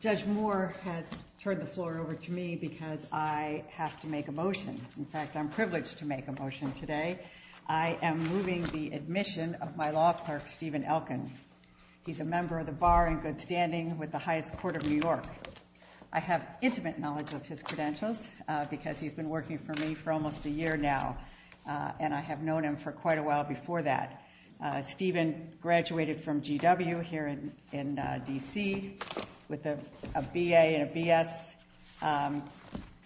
Judge Moore has turned the floor over to me because I have to make a motion. In fact, I'm privileged to make a motion today. I am moving the admission of my law clerk, Stephen Elkin. He's a member of the Bar in good standing with the highest court of New York. I have intimate knowledge of his credentials because he's been working for me for almost a year now, and I have known him for quite a while before that. Stephen graduated from GW here in D.C. with a B.A. and a B.S.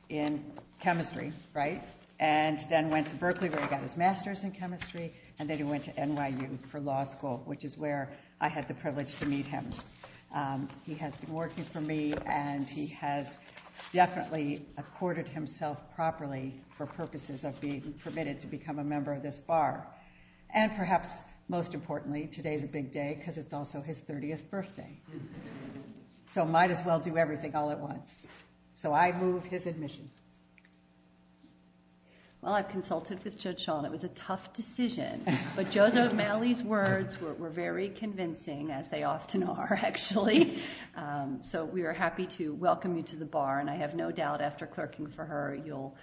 in chemistry, right? And then went to Berkeley where he got his master's in chemistry, and then he went to NYU for law school, which is where I had the privilege to meet him. He has been working for me, and he has definitely accorded himself properly for purposes of being permitted to become a member of this Bar. And perhaps most importantly, today's a big day because it's also his 30th birthday. So might as well do everything all at once. So I move his admission. Well, I've consulted with Judge Schall, and it was a tough decision, but Judge O'Malley's very convincing, as they often are, actually. So we are happy to welcome you to the Bar, and I have no doubt after clerking for her, you'll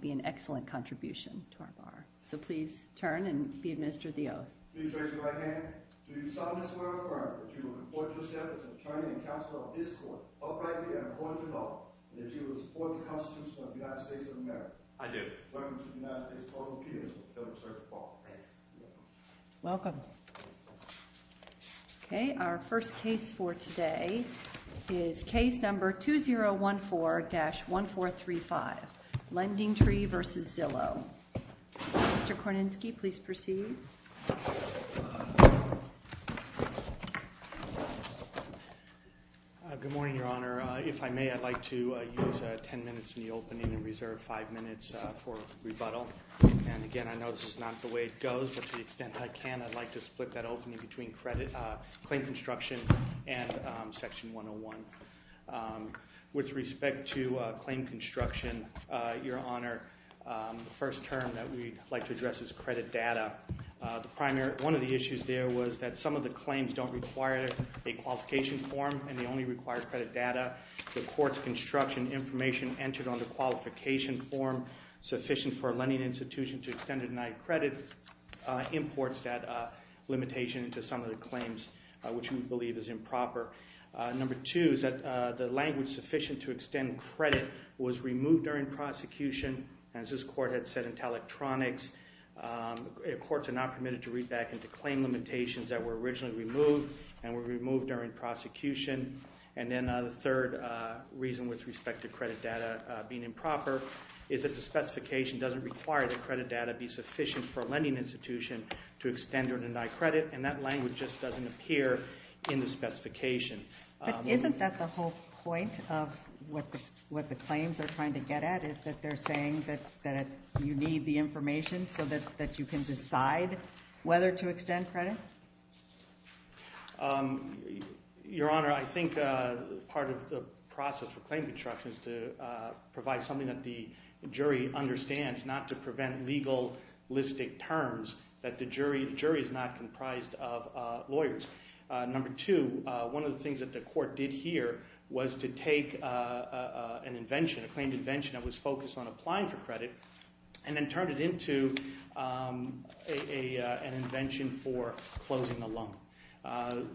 be an excellent contribution to our Bar. So please turn and be administered the oath. Please raise your right hand. Do you solemnly swear or affirm that you will comport yourself as an attorney and counsel of this court, uprightly and according to law, and that you will support the Constitution of the United States of America? I do. I pledge allegiance to the flag of the United States of America and to the republic for which it stands, one nation, under God, indivisible, with liberty and justice for all. Thanks. You may be seated. Welcome. Okay. Our first case for today is case number 2014-1435, Lending Tree v. Zillow. Mr. Korninski, please proceed. Good morning, Your Honor. If I may, I'd like to use 10 minutes in the opening and reserve 5 minutes for rebuttal. And again, I know this is not the way it goes, but to the extent that I can, I'd like to claim construction and section 101. With respect to claim construction, Your Honor, the first term that we'd like to address is credit data. One of the issues there was that some of the claims don't require a qualification form, and they only require credit data. The court's construction information entered on the qualification form sufficient for a which we believe is improper. Number two is that the language sufficient to extend credit was removed during prosecution, as this court had said, into electronics. Courts are not permitted to read back into claim limitations that were originally removed and were removed during prosecution. And then the third reason with respect to credit data being improper is that the specification doesn't require that credit data be sufficient for a lending institution to extend or deny a claim that doesn't appear in the specification. But isn't that the whole point of what the claims are trying to get at, is that they're saying that you need the information so that you can decide whether to extend credit? Your Honor, I think part of the process for claim construction is to provide something that the jury understands, not to prevent legalistic terms, that the jury is not comprised of lawyers. Number two, one of the things that the court did here was to take an invention, a claimed invention that was focused on applying for credit, and then turned it into an invention for closing a loan.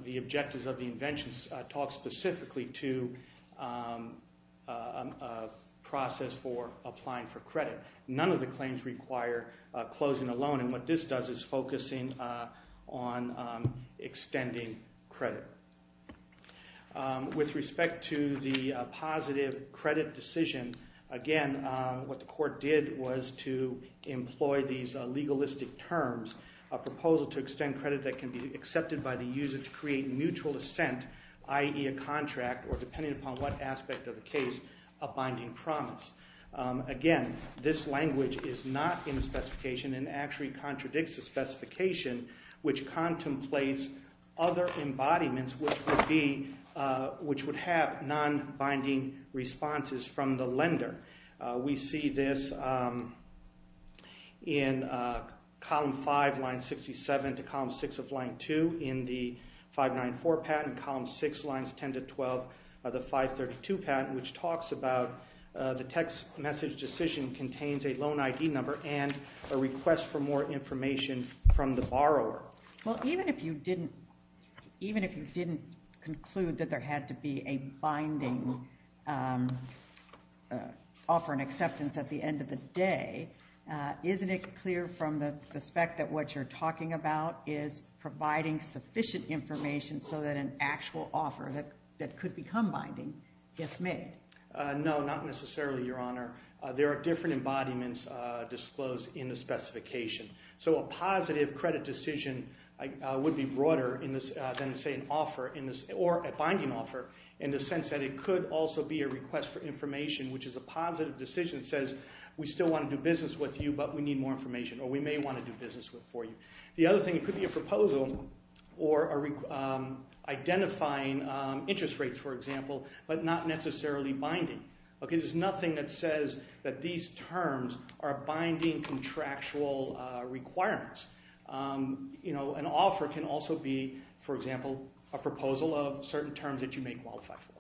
The objectives of the invention talk specifically to a process for applying for credit. None of the claims require closing a loan. And what this does is focusing on extending credit. With respect to the positive credit decision, again, what the court did was to employ these legalistic terms, a proposal to extend credit that can be accepted by the user to create mutual assent, i.e., a contract, or depending upon what aspect of the case, a binding promise. Again, this language is not in the specification and actually contradicts the specification, which contemplates other embodiments which would have non-binding responses from the lender. We see this in Column 5, Line 67 to Column 6 of Line 2 in the 594 patent, Column 6, Lines 10 to 12 of the 532 patent, which talks about the text message decision contains a loan ID number and a request for more information from the borrower. Well, even if you didn't conclude that there had to be a binding offer and acceptance at the end of the day, isn't it clear from the spec that what you're talking about is providing sufficient information so that an actual offer that could become binding gets made? No, not necessarily, Your Honor. There are different embodiments disclosed in the specification. So a positive credit decision would be broader than, say, an offer or a binding offer in the sense that it could also be a request for information, which is a positive decision that says we still want to do business with you, but we need more information, or we may want to do business for you. The other thing, it could be a proposal or identifying interest rates, for example, but not necessarily binding. There's nothing that says that these terms are binding contractual requirements. An offer can also be, for example, a proposal of certain terms that you may qualify for.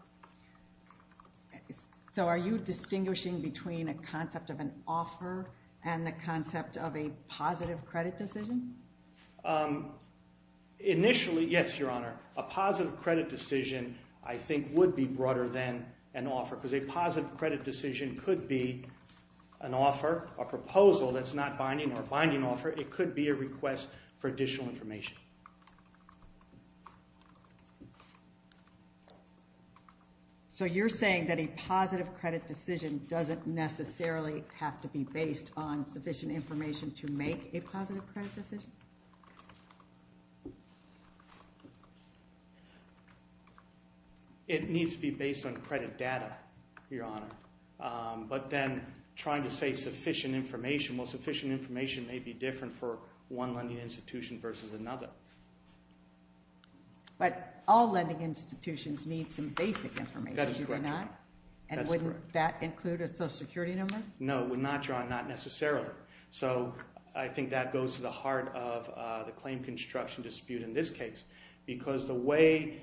So are you distinguishing between a concept of an offer and the concept of a positive credit decision? Initially, yes, Your Honor. A positive credit decision, I think, would be broader than an offer because a positive credit decision could be an offer, a proposal that's not binding or a binding offer. It could be a request for additional information. So you're saying that a positive credit decision doesn't necessarily have to be based on a positive credit decision? It needs to be based on credit data, Your Honor. But then trying to say sufficient information, well, sufficient information may be different for one lending institution versus another. But all lending institutions need some basic information, do they not? That is correct, Your Honor. And wouldn't that include a social security number? No, it would not, Your Honor, not necessarily. So I think that goes to the heart of the claim construction dispute in this case because the way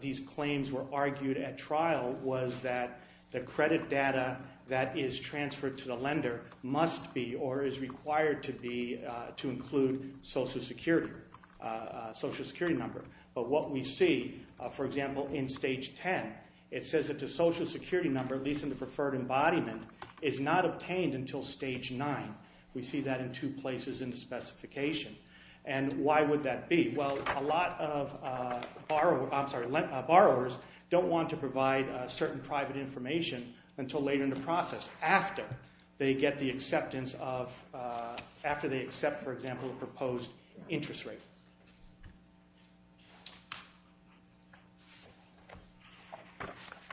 these claims were argued at trial was that the credit data that is transferred to the lender must be, or is required to be, to include social security, social security number. But what we see, for example, in Stage 10, it says that the social security number, at is not obtained until Stage 9. We see that in two places in the specification. And why would that be? Well, a lot of borrowers don't want to provide certain private information until later in the process after they get the acceptance of, after they accept, for example, a proposed interest rate.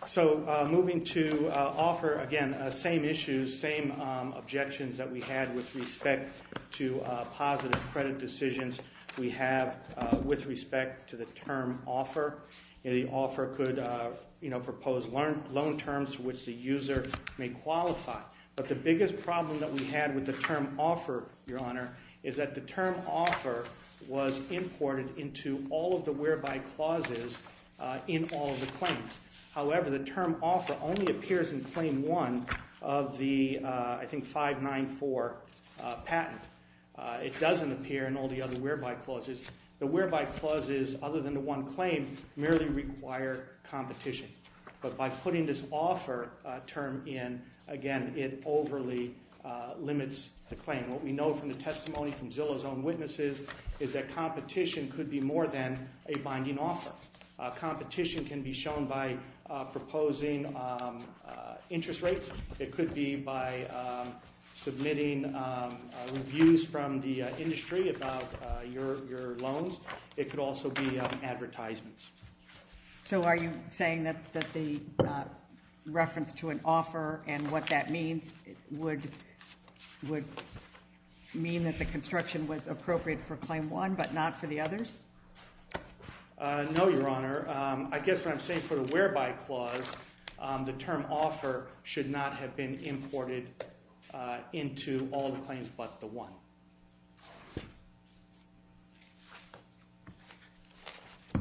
So moving to offer, again, same issues, same objections that we had with respect to positive credit decisions we have with respect to the term offer. The offer could, you know, propose loan terms to which the user may qualify. But the biggest problem that we had with the term offer, Your Honor, is that the term offer was imported into all of the whereby clauses in all of the claims. However, the term offer only appears in Claim 1 of the, I think, 594 patent. It doesn't appear in all the other whereby clauses. The whereby clauses, other than the one claim, merely require competition. But by putting this offer term in, again, it overly limits the claim. What we know from the testimony from Zillow's own witnesses is that competition could be more than a binding offer. Competition can be shown by proposing interest rates. It could be by submitting reviews from the industry about your loans. It could also be advertisements. So are you saying that the reference to an offer and what that means would mean that the construction was appropriate for Claim 1 but not for the others? No, Your Honor. I guess what I'm saying for the whereby clause, the term offer should not have been imported into all the claims but the one.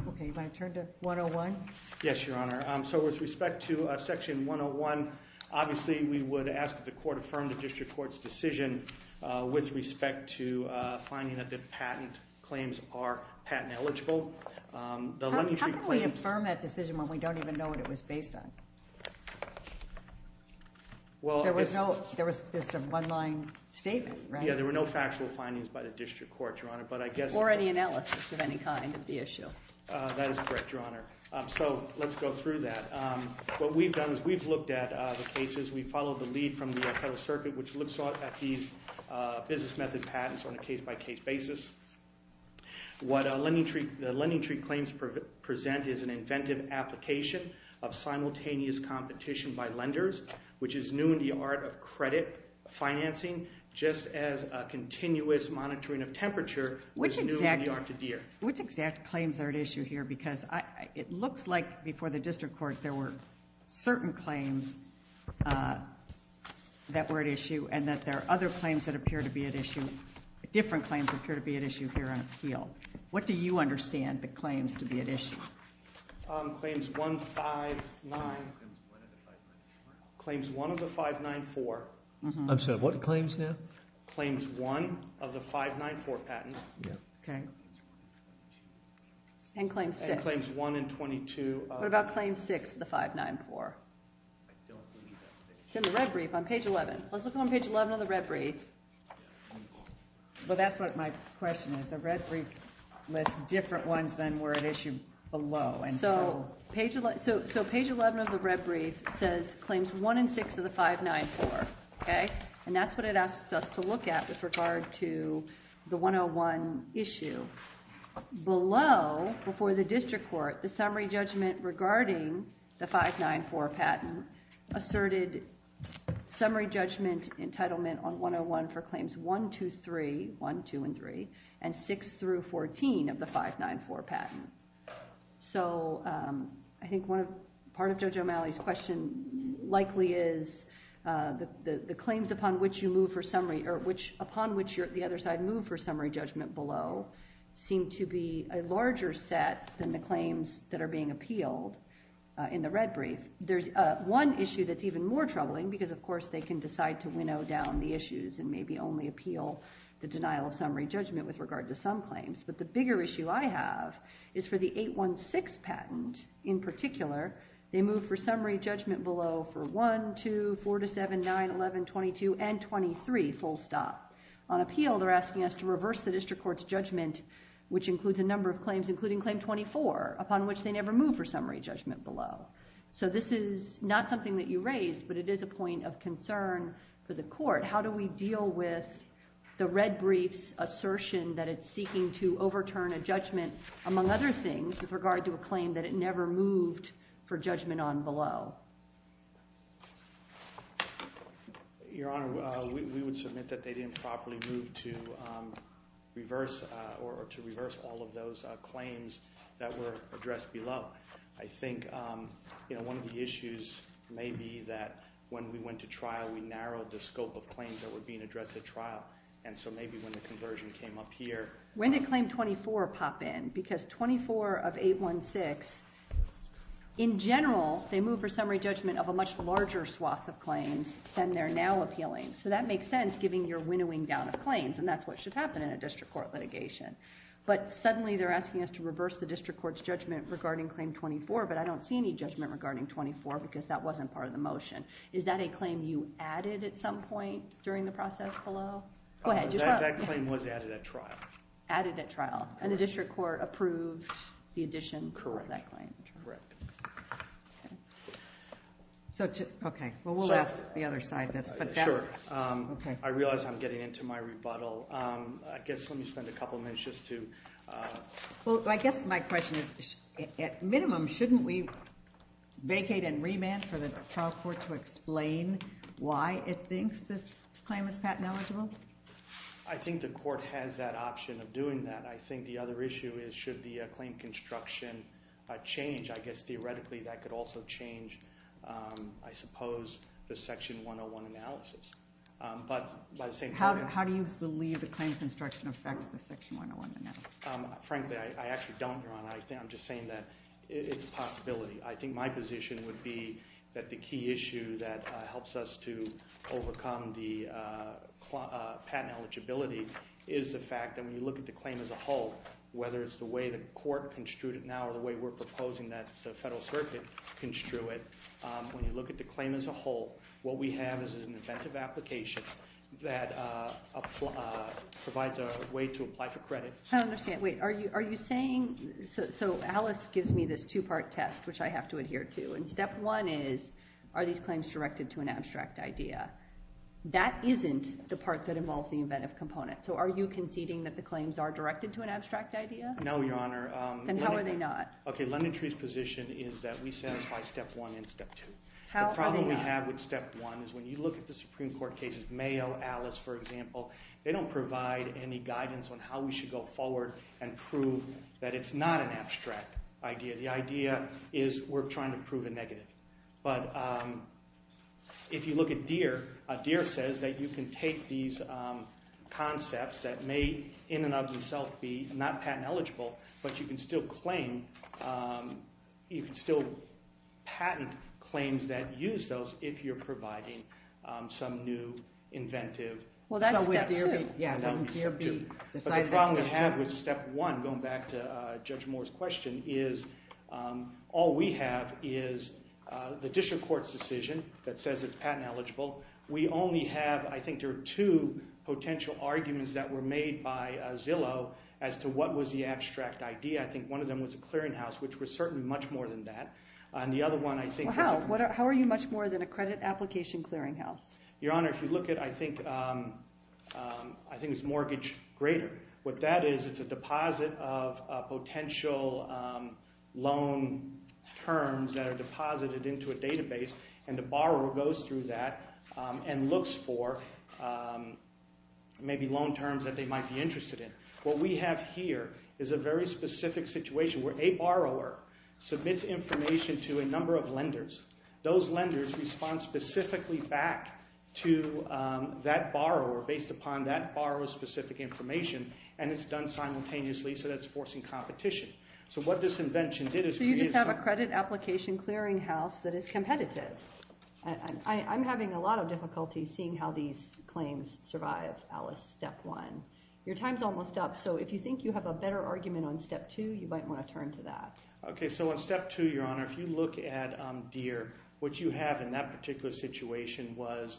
OK, you want to turn to 101? Yes, Your Honor. So with respect to Section 101, obviously, we would ask that the court affirm the district court's decision with respect to finding that the patent claims are patent eligible. How can we affirm that decision when we don't even know what it was based on? There was just a one-line statement, right? There were no factual findings by the district court, Your Honor, but I guess- Or any analysis of any kind of the issue. That is correct, Your Honor. So let's go through that. What we've done is we've looked at the cases. We followed the lead from the Federal Circuit, which looks at these business method patents on a case-by-case basis. What the lending treat claims present is an inventive application of simultaneous competition by lenders, which is new in the art of credit financing, just as a continuous monitoring of temperature is new in the art to Deere. Which exact claims are at issue here? Because it looks like before the district court, there were certain claims that were at issue and that there are other claims that appear to be at issue, different claims appear to be at issue here on appeal. What do you understand the claims to be at issue? Claims one, five, nine. Claims one of the five, nine, four. I'm sorry, what claims now? Claims one of the five, nine, four patent. And claims six. And claims one and 22. What about claims six of the five, nine, four? It's in the red brief on page 11. Let's look on page 11 of the red brief. Well, that's what my question is. The red brief lists different ones than were at issue below. So page 11 of the red brief says claims one and six of the five, nine, four. And that's what it asks us to look at with regard to the 101 issue. Below, before the district court, the summary judgment regarding the five, nine, four patent asserted summary judgment entitlement on 101 for claims one, two, three, one, two, and three. And six through 14 of the five, nine, four patent. So I think part of Judge O'Malley's question likely is the claims upon which you move for summary, or upon which the other side move for summary judgment below, seem to be a larger set than the claims that are being appealed in the red brief. They can decide to winnow down the issues and maybe only appeal the denial of summary judgment with regard to some claims. But the bigger issue I have is for the 816 patent in particular, they move for summary judgment below for one, two, four to seven, nine, 11, 22, and 23, full stop. On appeal, they're asking us to reverse the district court's judgment, which includes a number of claims, including claim 24, upon which they never move for summary judgment below. So this is not something that you raised, but it is a point of concern for the court. How do we deal with the red brief's assertion that it's seeking to overturn a judgment, among other things, with regard to a claim that it never moved for judgment on below? Your Honor, we would submit that they didn't properly move to reverse all of those claims that were addressed below. I think one of the issues may be that when we went to trial, we narrowed the scope of claims that were being addressed at trial. And so maybe when the conversion came up here- When did claim 24 pop in? Because 24 of 816, in general, they move for summary judgment of a much larger swath of claims than they're now appealing. So that makes sense, giving your winnowing down of claims. And that's what should happen in a district court litigation. But suddenly, they're asking us to reverse the district court's judgment regarding claim 24, but I don't see any judgment regarding 24 because that wasn't part of the motion. Is that a claim you added at some point during the process below? Go ahead. That claim was added at trial. Added at trial. And the district court approved the addition of that claim? Correct. Okay. Well, we'll ask the other side this, but- Sure. I realize I'm getting into my rebuttal. I guess let me spend a couple minutes just to- Well, I guess my question is, at minimum, shouldn't we vacate and remand for the trial court to explain why it thinks this claim is patent eligible? I think the court has that option of doing that. I think the other issue is, should the claim construction change? I guess, theoretically, that could also change, I suppose, the section 101 analysis. But by the same token- How do you believe the claim construction affects the section 101 analysis? Frankly, I actually don't, Ron. I'm just saying that it's a possibility. I think my position would be that the key issue that helps us to overcome the patent eligibility is the fact that when you look at the claim as a whole, whether it's the way the court construed it now or the way we're proposing that the Federal Circuit construe it, when you look at the claim as a whole, what we have is an inventive application that provides a way to apply for credit. I understand. So Alice gives me this two-part test, which I have to adhere to. And step one is, are these claims directed to an abstract idea? That isn't the part that involves the inventive component. So are you conceding that the claims are directed to an abstract idea? No, Your Honor. Then how are they not? OK. Lendon Tree's position is that we satisfy step one and step two. The problem we have with step one is when you look at the Supreme Court cases, Mayo, Alice, for example, they don't provide any guidance on how we should go forward and prove that it's not an abstract idea. The idea is we're trying to prove a negative. But if you look at Deere, Deere says that you can take these concepts that may in and of themselves be not patent eligible, but you can still patent claims that use those if you're providing some new inventive. Well, that's step two. Yeah, that would be step two. But the problem we have with step one, going back to Judge Moore's question, is all we have is the district court's decision that says it's patent eligible. We only have, I think there are two potential arguments that were made by Zillow as to what was the abstract idea. I think one of them was a clearinghouse, which was certainly much more than that. And the other one, I think... Well, how? How are you much more than a credit application clearinghouse? Your Honor, if you look at, I think it's mortgage grader. What that is, it's a deposit of potential loan terms that are deposited into a database, and the borrower goes through that and looks for maybe loan terms that they might be interested in. What we have here is a very specific situation where a borrower submits information to a number of lenders. Those lenders respond specifically back to that borrower, based upon that borrower's specific information, and it's done simultaneously, so that's forcing competition. So what this invention did is... So you just have a credit application clearinghouse that is competitive. I'm having a lot of difficulty seeing how these claims survive, Alice, step one. Your time's almost up, so if you think you have a better argument on step two, you might want to turn to that. Okay, so on step two, Your Honor, if you look at Deere, what you have in that particular situation was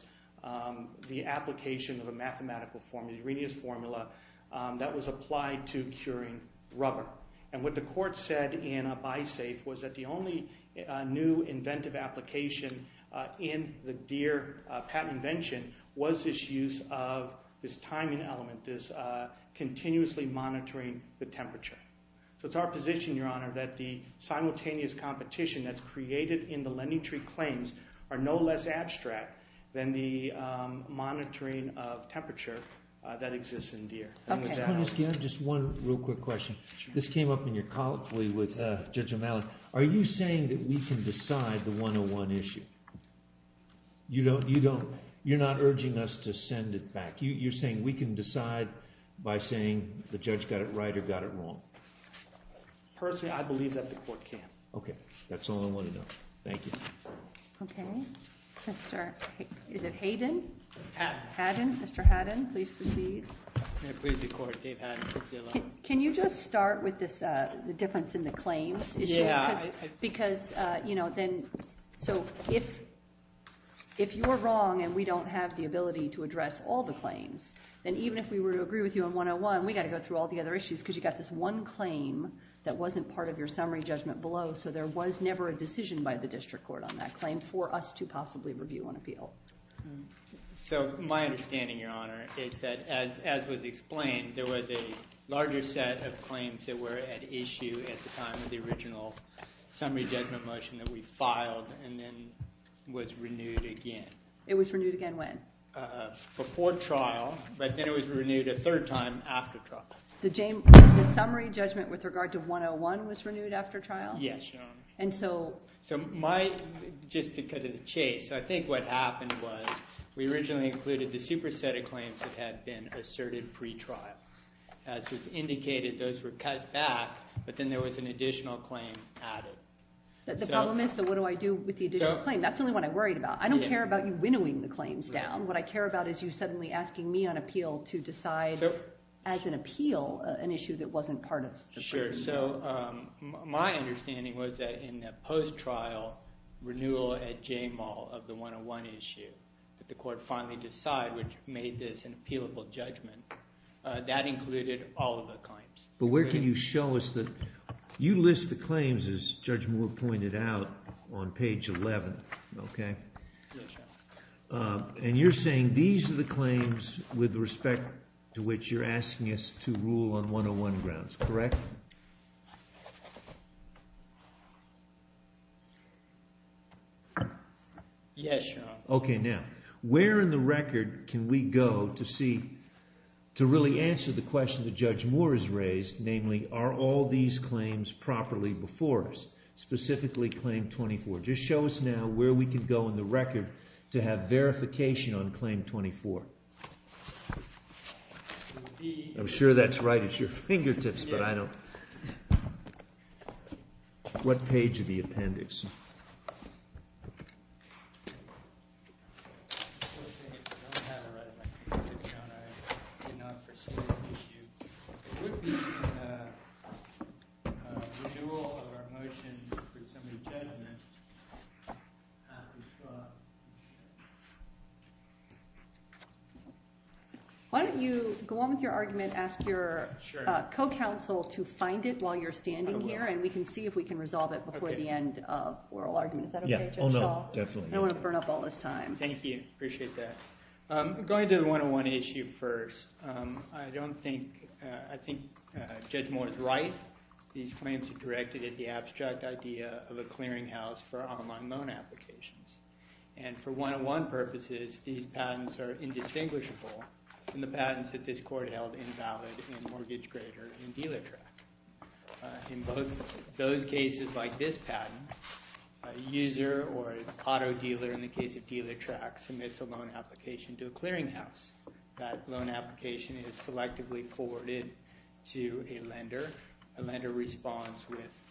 the application of a mathematical formula, the Arrhenius formula, that was applied to curing rubber. And what the court said in a buy safe was that the only new inventive application in the Deere patent invention was this use of this timing element, this continuously monitoring the temperature. So it's our position, Your Honor, that the simultaneous competition that's created in the LendingTree claims are no less abstract than the monitoring of temperature that exists in Deere. Okay. Can I ask you just one real quick question? This came up in your colleague with Judge O'Malley. Are you saying that we can decide the 101 issue? You don't, you're not urging us to send it back. You're saying we can decide by saying the judge got it right or got it wrong? Personally, I believe that the court can. Okay. That's all I want to know. Okay. Mr., is it Hayden? Hadden. Hadden. Mr. Hadden, please proceed. Can you just start with this, the difference in the claims issue? Yeah. Because, you know, then, so if you're wrong and we don't have the ability to address all the claims, then even if we were to agree with you on 101, we got to go through all the other issues because you got this one claim that wasn't part of your summary judgment below. So there was never a decision by the district court on that claim for us to possibly review an appeal. So my understanding, Your Honor, is that as was explained, there was a larger set of claims that were at issue at the time of the original summary judgment motion that we filed and then was renewed again. It was renewed again when? Before trial. But then it was renewed a third time after trial. The summary judgment with regard to 101 was renewed after trial? Yes, Your Honor. And so? So my, just to cut to the chase, I think what happened was we originally included the cutback, but then there was an additional claim added. The problem is, so what do I do with the additional claim? That's the only one I'm worried about. I don't care about you winnowing the claims down. What I care about is you suddenly asking me on appeal to decide as an appeal an issue that wasn't part of the primary. Sure. So my understanding was that in the post-trial renewal at J-Mall of the 101 issue, that the court finally decided, which made this an appealable judgment, that included all of the claims. But where can you show us the, you list the claims as Judge Moore pointed out on page 11, okay? Yes, Your Honor. And you're saying these are the claims with respect to which you're asking us to rule on 101 grounds, correct? Yes, Your Honor. Okay, now, where in the record can we go to see, to really answer the question that Judge Moore raised, namely, are all these claims properly before us? Specifically, Claim 24. Just show us now where we can go in the record to have verification on Claim 24. I'm sure that's right at your fingertips, but I don't, what page of the appendix? The renewal of our motion for some of the judgment. Why don't you go on with your argument, ask your co-counsel to find it while you're standing here, and we can see if we can resolve it before the end of oral argument. Is that okay, Judge Shaw? Yeah, oh no, definitely. I don't want to burn up all this time. Thank you, appreciate that. Going to the 101 issue first. I don't think, I think Judge Moore is right. These claims are directed at the abstract idea of a clearinghouse for online loan applications. And for 101 purposes, these patents are indistinguishable from the patents that this court held invalid in Mortgage Grader and Dealer Track. In both those cases, like this patent, a user or auto dealer, in the case of Dealer Track, submits a loan application to a clearinghouse. That loan application is selectively forwarded to a lender. A lender responds with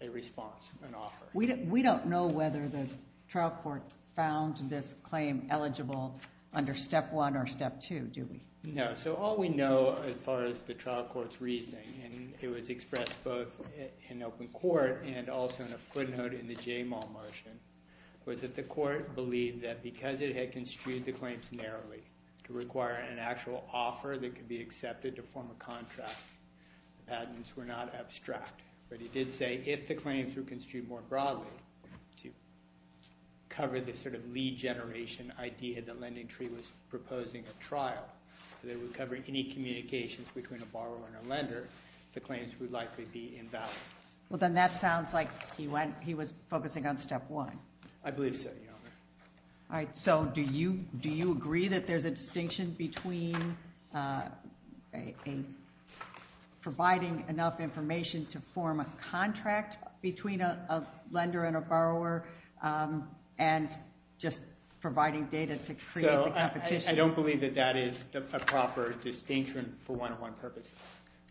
a response, an offer. We don't know whether the trial court found this claim eligible under step one or step two, do we? No. So all we know as far as the trial court's reasoning, and it was expressed both in open court and also in a footnote in the JMAL motion, was that the court believed that because it had construed the claims narrowly to require an actual offer that could be accepted to form a contract, the patents were not abstract. But it did say if the claims were construed more broadly to cover this sort of lead generation idea that LendingTree was proposing a trial that would cover any communications between a borrower and a lender, the claims would likely be invalid. Well, then that sounds like he went, he was focusing on step one. I believe so, Your Honor. So do you agree that there's a distinction between providing enough information to form a contract between a lender and a borrower and just providing data to create the competition? I don't believe that that is a proper distinction for one-on-one purposes.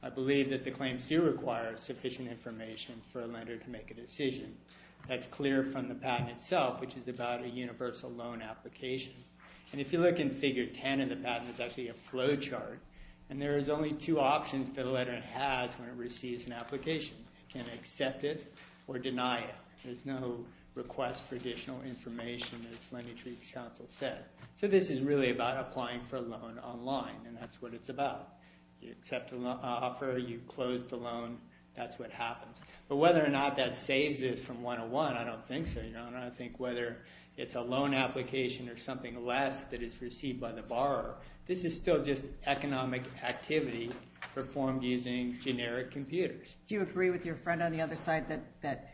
I believe that the claims do require sufficient information for a lender to make a decision. That's clear from the patent itself, which is about a universal loan application. And if you look in figure 10 in the patent, it's actually a flow chart. And there is only two options that a lender has when it receives an application. Can accept it or deny it. There's no request for additional information, as LendingTree's counsel said. So this is really about applying for a loan online, and that's what it's about. You accept the offer, you close the loan, that's what happens. But whether or not that saves it from one-on-one, I don't think so, Your Honor. I think whether it's a loan application or something less that is received by the borrower, this is still just economic activity performed using generic computers. Do you agree with your friend on the other side that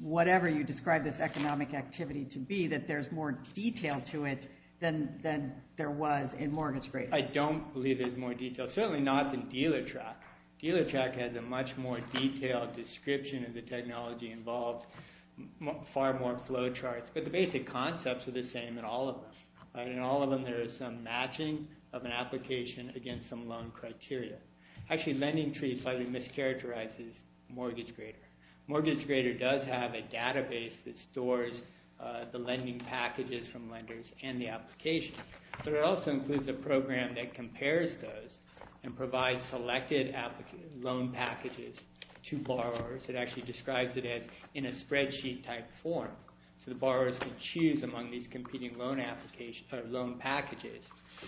whatever you describe this economic activity to be, that there's more detail to it than there was in mortgage-grade? I don't believe there's more detail. Certainly not than dealer track. Dealer track has a much more detailed description of the technology involved, far more flow charts. But the basic concepts are the same in all of them. In all of them, there is some matching of an application against some loan criteria. Actually, LendingTree slightly mischaracterizes mortgage grader. Mortgage grader does have a database that stores the lending packages from lenders and the applications. But it also includes a program that compares those and provides selected loan packages to borrowers. It actually describes it as in a spreadsheet-type form. So the borrowers can choose among these competing loan packages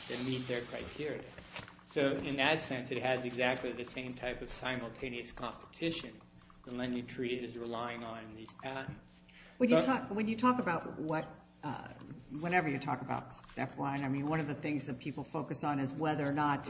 that meet their criteria. So in that sense, it has exactly the same type of simultaneous competition that LendingTree is relying on in these patents. When you talk about what, whenever you talk about step one, I mean, one of the things that people focus on is whether or not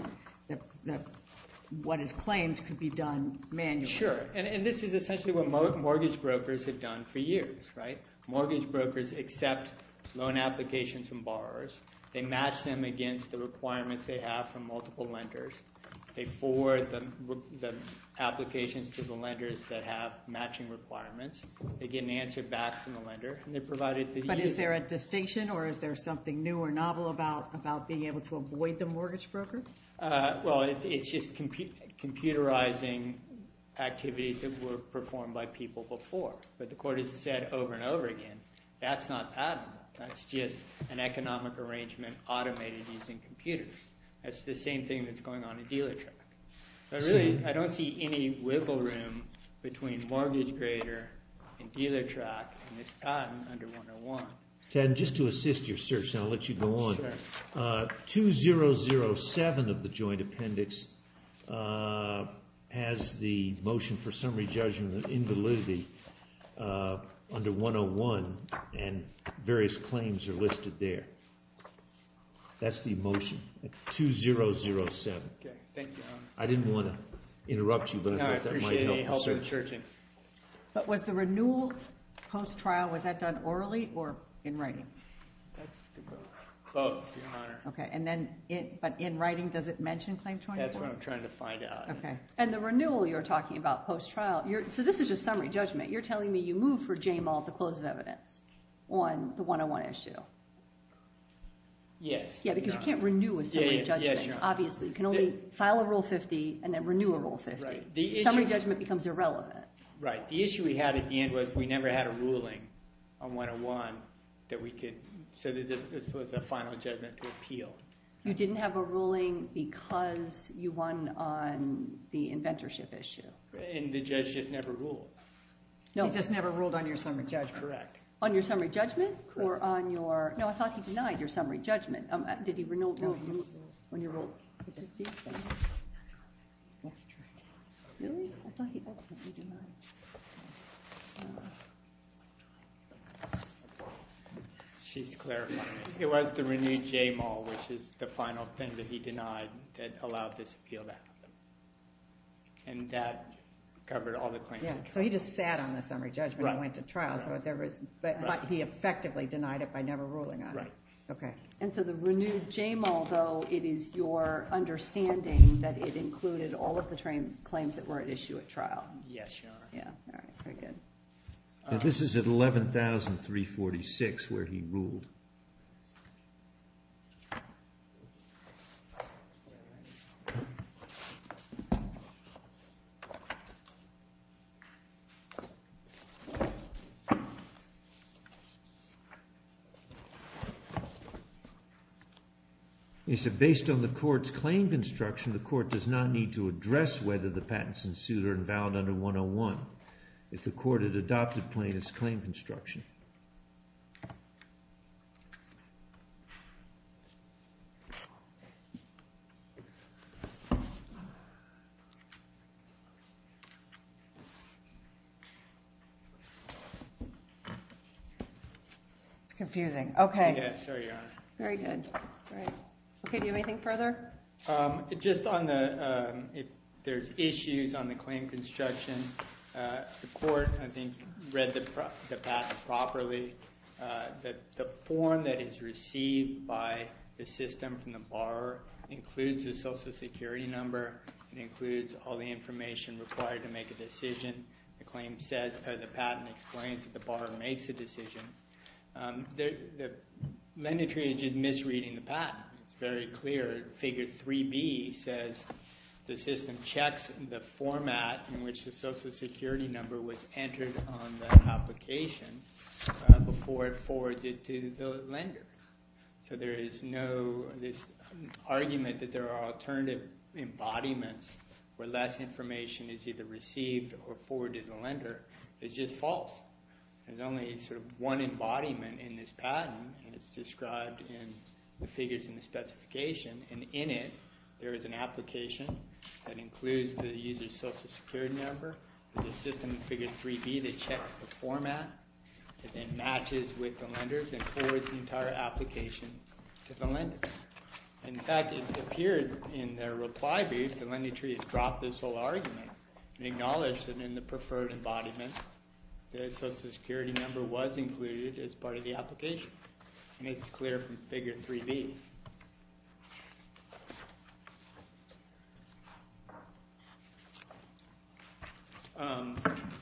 what is claimed could be done manually. Sure. And this is essentially what mortgage brokers have done for years, right? Mortgage brokers accept loan applications from borrowers. They match them against the requirements they have from multiple lenders. They forward the applications to the lenders that have matching requirements. They get an answer back from the lender. And they provide it to the user. But is there a distinction? Or is there something new or novel about being able to avoid the mortgage broker? Well, it's just computerizing activities that were performed by people before. But the court has said over and over again, that's not patent law. That's just an economic arrangement automated using computers. That's the same thing that's going on at DealerTree. So really, I don't see any wiggle room between MortgageGrader and DealerTrack in this patent under 101. Ted, just to assist your search, and I'll let you go on. Sure. 2007 of the joint appendix has the motion for summary judgment invalidity under 101. And various claims are listed there. That's the motion at 2007. OK. Thank you, Your Honor. I didn't want to interrupt you. But I thought that might help the search. But was the renewal post-trial, was that done orally or in writing? That's a good question. Both, Your Honor. OK. And then, but in writing, does it mention Claim 24? That's what I'm trying to find out. OK. And the renewal you're talking about post-trial, so this is just summary judgment. You're telling me you move for JMAL at the close of evidence on the 101 issue? Yes. Yeah, because you can't renew a summary judgment. Obviously. You can only file a Rule 50 and then renew a Rule 50. Summary judgment becomes irrelevant. Right. The issue we had at the end was we never had a ruling on 101 that we could, so that this was a final judgment to appeal. You didn't have a ruling because you won on the inventorship issue. And the judge just never ruled. He just never ruled on your summary judgment. Correct. On your summary judgment? Or on your, no, I thought he denied your summary judgment. Did he renew? She's clarifying. It was the renewed JMAL, which is the final thing that he denied, that allowed this appeal to happen. And that covered all the claims. Yeah, so he just sat on the summary judgment and went to trial. But he effectively denied it by never ruling on it. Right. OK. And so the renewed JMAL, though, it is your understanding that it included all of the claims that were at issue at trial? Yes, Your Honor. Yeah. All right. Very good. This is at 11,346 where he ruled. And he said, based on the court's claim construction, the court does not need to address whether the patents in suit are invalid under 101 if the court had adopted plaintiff's claim construction. It's confusing. OK. Very good. All right. OK, do you have anything further? Just on the, if there's issues on the claim construction, the court, I think, read the patent properly. That the form that is received by the system from the borrower includes the social security number. It includes all the information required to make a decision. The lender tree is just misreading the patent. It's very clear. Figure 3B says the system checks the format in which the social security number was entered on the application before it forwards it to the lender. So there is no argument that there are alternative embodiments where less information is either received or forwarded to the lender. It's just false. There's only sort of one embodiment in this patent, and it's described in the figures in the specification. And in it, there is an application that includes the user's social security number. There's a system in figure 3B that checks the format and matches with the lender's and forwards the entire application to the lender. In fact, it appeared in their reply brief, the lender tree has dropped this whole argument and acknowledged that in the preferred embodiment, the social security number was included as part of the application. And it's clear from figure 3B.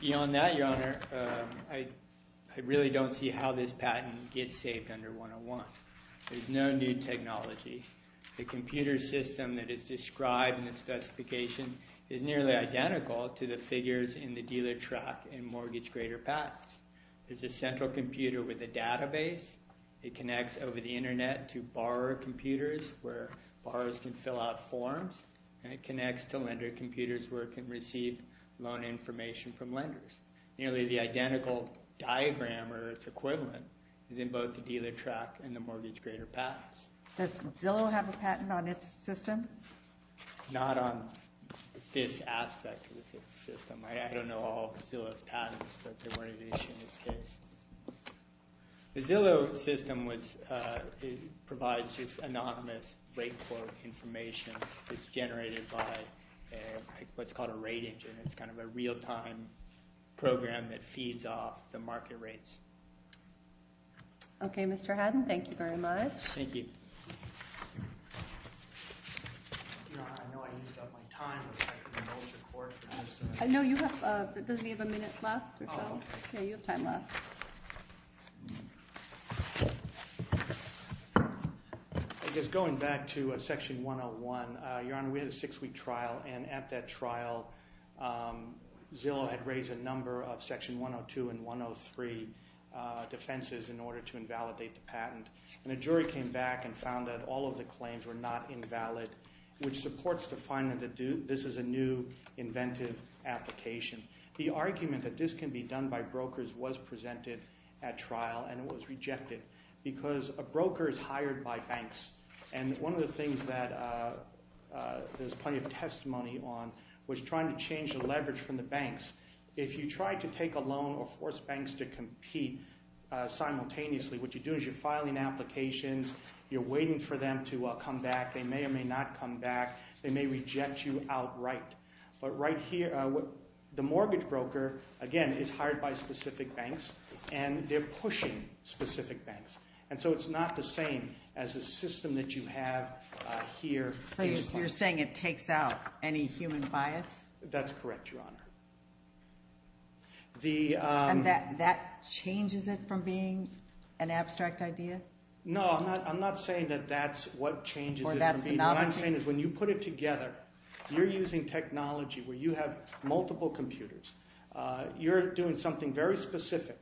Beyond that, your honor, I really don't see how this patent gets saved under 101. There's no new technology. The computer system that is described in the specification is nearly identical to the figures in the dealer track and mortgage grader patents. There's a central computer with a database. It connects over the internet to borrower computers where borrowers can fill out forms, and it connects to lender computers where it can receive loan information from lenders. Nearly the identical diagram or its equivalent is in both the dealer track and the mortgage grader patents. Does Zillow have a patent on its system? Not on this aspect of the system. I don't know all of Zillow's patents, but they weren't an issue in this case. The Zillow system provides just anonymous rate quote information. It's generated by what's called a rate engine. It's kind of a real-time program that feeds off the market rates. Okay, Mr. Haddon, thank you very much. Thank you. Your Honor, I know I used up my time. I know you have... Doesn't he have a minute left or so? Okay, you have time left. I guess going back to Section 101, Your Honor, we had a six-week trial, and at that trial, Zillow had raised a number of Section 102 and 103 defenses in order to invalidate the patent, and a jury came back and found that all of the claims were not invalid, which supports the finding that this is a new inventive application. The argument that this can be done by brokers was presented at trial, and it was rejected because a broker is hired by banks, and one of the things that there's plenty of testimony on was trying to change the leverage from the banks. If you try to take a loan or force banks to compete simultaneously, what you do is you're filing applications. You're waiting for them to come back. They may or may not come back. They may reject you outright. But right here, the mortgage broker, again, is hired by specific banks, and they're pushing specific banks, and so it's not the same as the system that you have here. So you're saying it takes out any human bias? That's correct, Your Honor. And that changes it from being an abstract idea? No, I'm not saying that that's what changes it from being... Or that's the novelty? What I'm saying is when you put it together, you're using technology where you have multiple computers. You're doing something very specific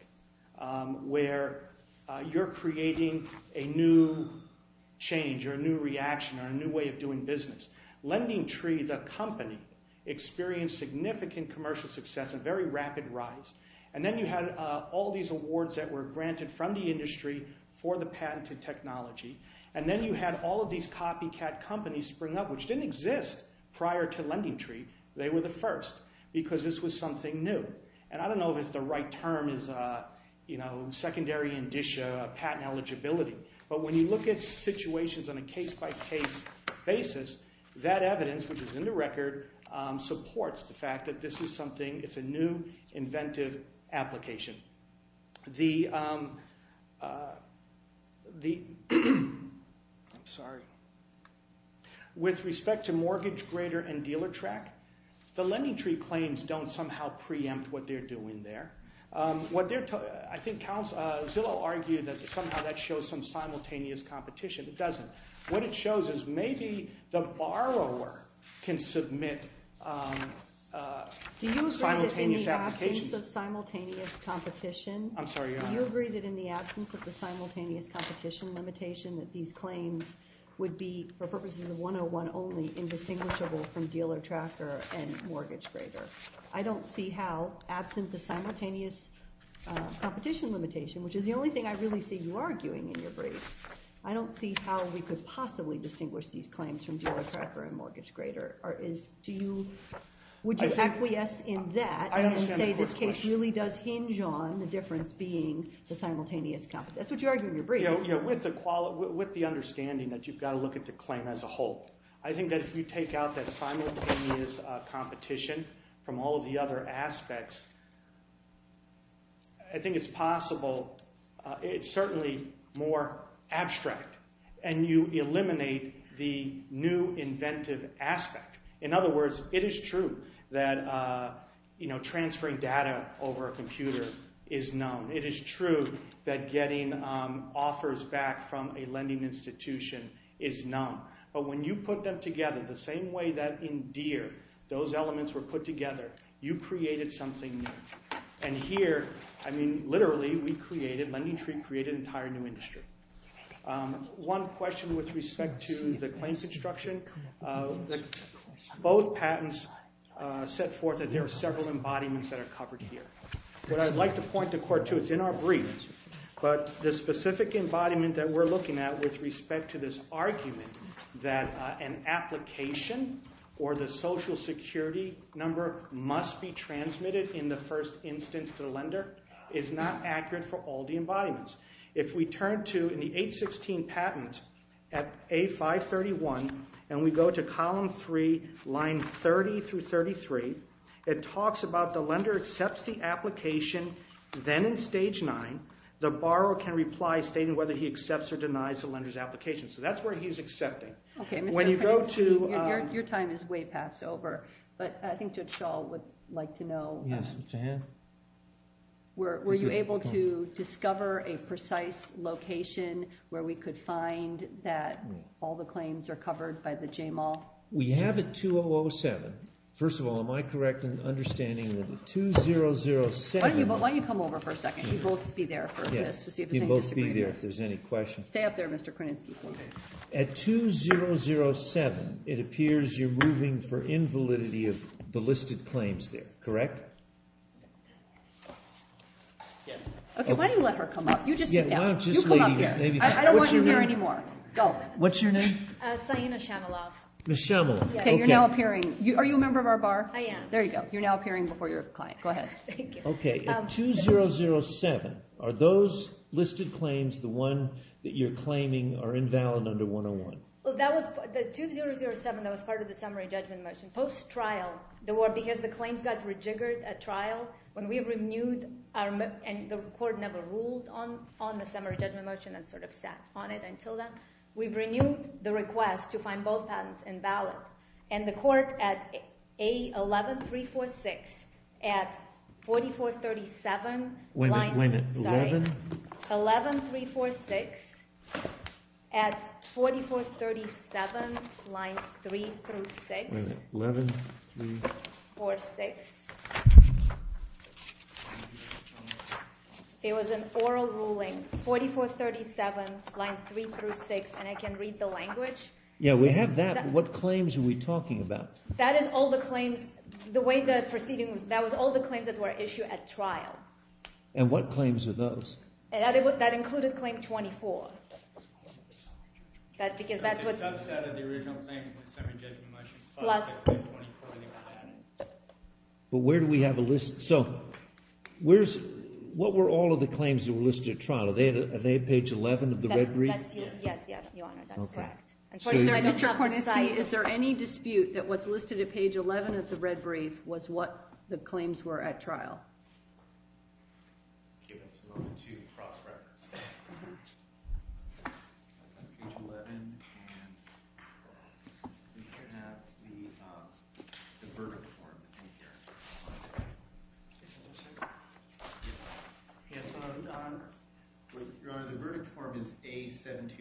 where you're creating a new change or a new reaction LendingTree, the company, experienced significant commercial success and very rapid rise. And then you had all these awards that were granted from the industry for the patented technology. And then you had all of these copycat companies spring up, which didn't exist prior to LendingTree. They were the first because this was something new. And I don't know if it's the right term, secondary indicia, patent eligibility. But when you look at situations on a case-by-case basis, that evidence, which is in the record, supports the fact that this is something... It's a new, inventive application. I'm sorry. With respect to mortgage grader and dealer track, the LendingTree claims don't somehow preempt what they're doing there. Zillow argued that somehow that shows some simultaneous competition. It doesn't. What it shows is maybe the borrower can submit... Do you agree that in the absence of simultaneous competition... I'm sorry. Do you agree that in the absence of the simultaneous competition limitation that these claims would be, for purposes of 101 only, indistinguishable from dealer tracker and mortgage grader? I don't see how, absent the simultaneous competition limitation, which is the only thing I really see you arguing in your briefs, I don't see how we could possibly distinguish these claims from dealer tracker and mortgage grader. Would you acquiesce in that and say this case really does hinge on the difference being the simultaneous competition? That's what you argue in your brief. With the understanding that you've got to look at the claim as a whole. I think that if you take out that simultaneous competition from all of the other aspects, I think it's possible... It's certainly more abstract. And you eliminate the new inventive aspect. In other words, it is true that transferring data over a computer is known. It is true that getting offers back from a lending institution is known. But when you put them together the same way that in Deere, those elements were put together, you created something new. And here, literally, we created... LendingTree created an entire new industry. One question with respect to the claims instruction. Both patents set forth that there are several embodiments that are covered here. What I'd like to point the court to, it's in our brief, but the specific embodiment that we're looking at with respect to this argument that an application or the social security number must be transmitted in the first instance to the lender is not accurate for all the embodiments. If we turn to in the 816 patent at A531, and we go to column three, line 30 through 33, it talks about the lender accepts the application. Then in stage nine, the borrower can reply stating whether he accepts or denies the lender's application. So that's where he's accepting. Okay. When you go to... Your time is way past over. But I think Judge Schall would like to know... Yes, Mr. Henn. Were you able to discover a precise location where we could find that all the claims are covered by the JML? We have it 2007. First of all, am I correct in understanding that the 2007... Why don't you come over for a second? You both be there for this to see if there's any disagreement. You both be there if there's any questions. Stay up there, Mr. Kreninski. At 2007, it appears you're moving for invalidity of the listed claims there, correct? Yes. Okay, why do you let her come up? You just sit down. You come up here. I don't want you here anymore. Go. What's your name? Sayina Shamalov. Ms. Shamalov. Okay, you're now appearing... Are you a member of our bar? I am. There you go. You're now appearing before your client. Go ahead. Thank you. Okay. At 2007, are those listed claims, the one that you're claiming are invalid under 101? Well, that was... The 2007, that was part of the summary judgment motion. Post-trial, there were... Because the claims got rejiggered at trial, when we renewed our... And the court never ruled on the summary judgment motion and sat on it until then. We've renewed the request to find both patents invalid. And the court at A11346, at 4437... Wait a minute, wait a minute. Sorry. 11346 at 4437 lines three through six. Wait a minute, 11346. It was an oral ruling, 4437 lines three through six. And I can read the language. Yeah, we have that. What claims are we talking about? That is all the claims, the way the proceeding was... That was all the claims that were issued at trial. And what claims are those? That included claim 24. That's because that's what... It's a subset of the original claim, the summary judgment motion. But where do we have a list? So, what were all of the claims that were listed at trial? Are they at page 11 of the red brief? Yes, yes, your honor, that's correct. Mr. Korniski, is there any dispute that what's listed at page 11 of the red brief was what the claims were at trial? Give us a moment to cross-reference that. Page 11, and we can have the verdict form in here. Yes, your honor, the verdict form is A7251.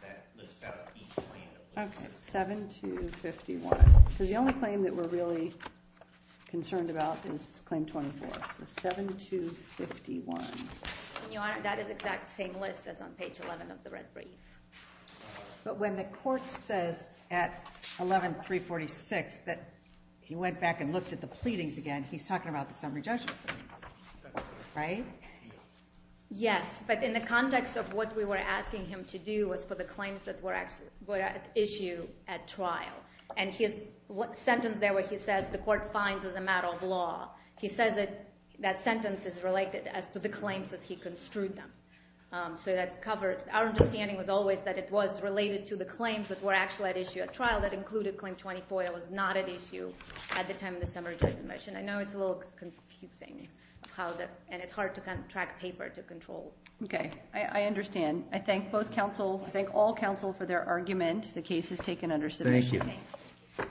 That lists out each claim that was listed. Okay, 7251. Because the only claim that we're really concerned about is claim 24, so 7251. And your honor, that is the exact same list that's on page 11 of the red brief. But when the court says at 11-346 that he went back and looked at the pleadings again, he's talking about the summary judgment, right? Yes, but in the context of what we were asking him to do was for the claims that were at issue at trial. And his sentence there where he says the court finds as a matter of law, he says that that sentence is related as to the claims as he construed them. So that's covered. Our understanding was always that it was related to the claims that were actually at issue at trial that included claim 24 that was not at issue at the time of the summary judgment. I know it's a little confusing, and it's hard to track paper to control. Okay, I understand. I thank both counsel, I thank all counsel for their argument. The case is taken under submission. Thank you. Thank you.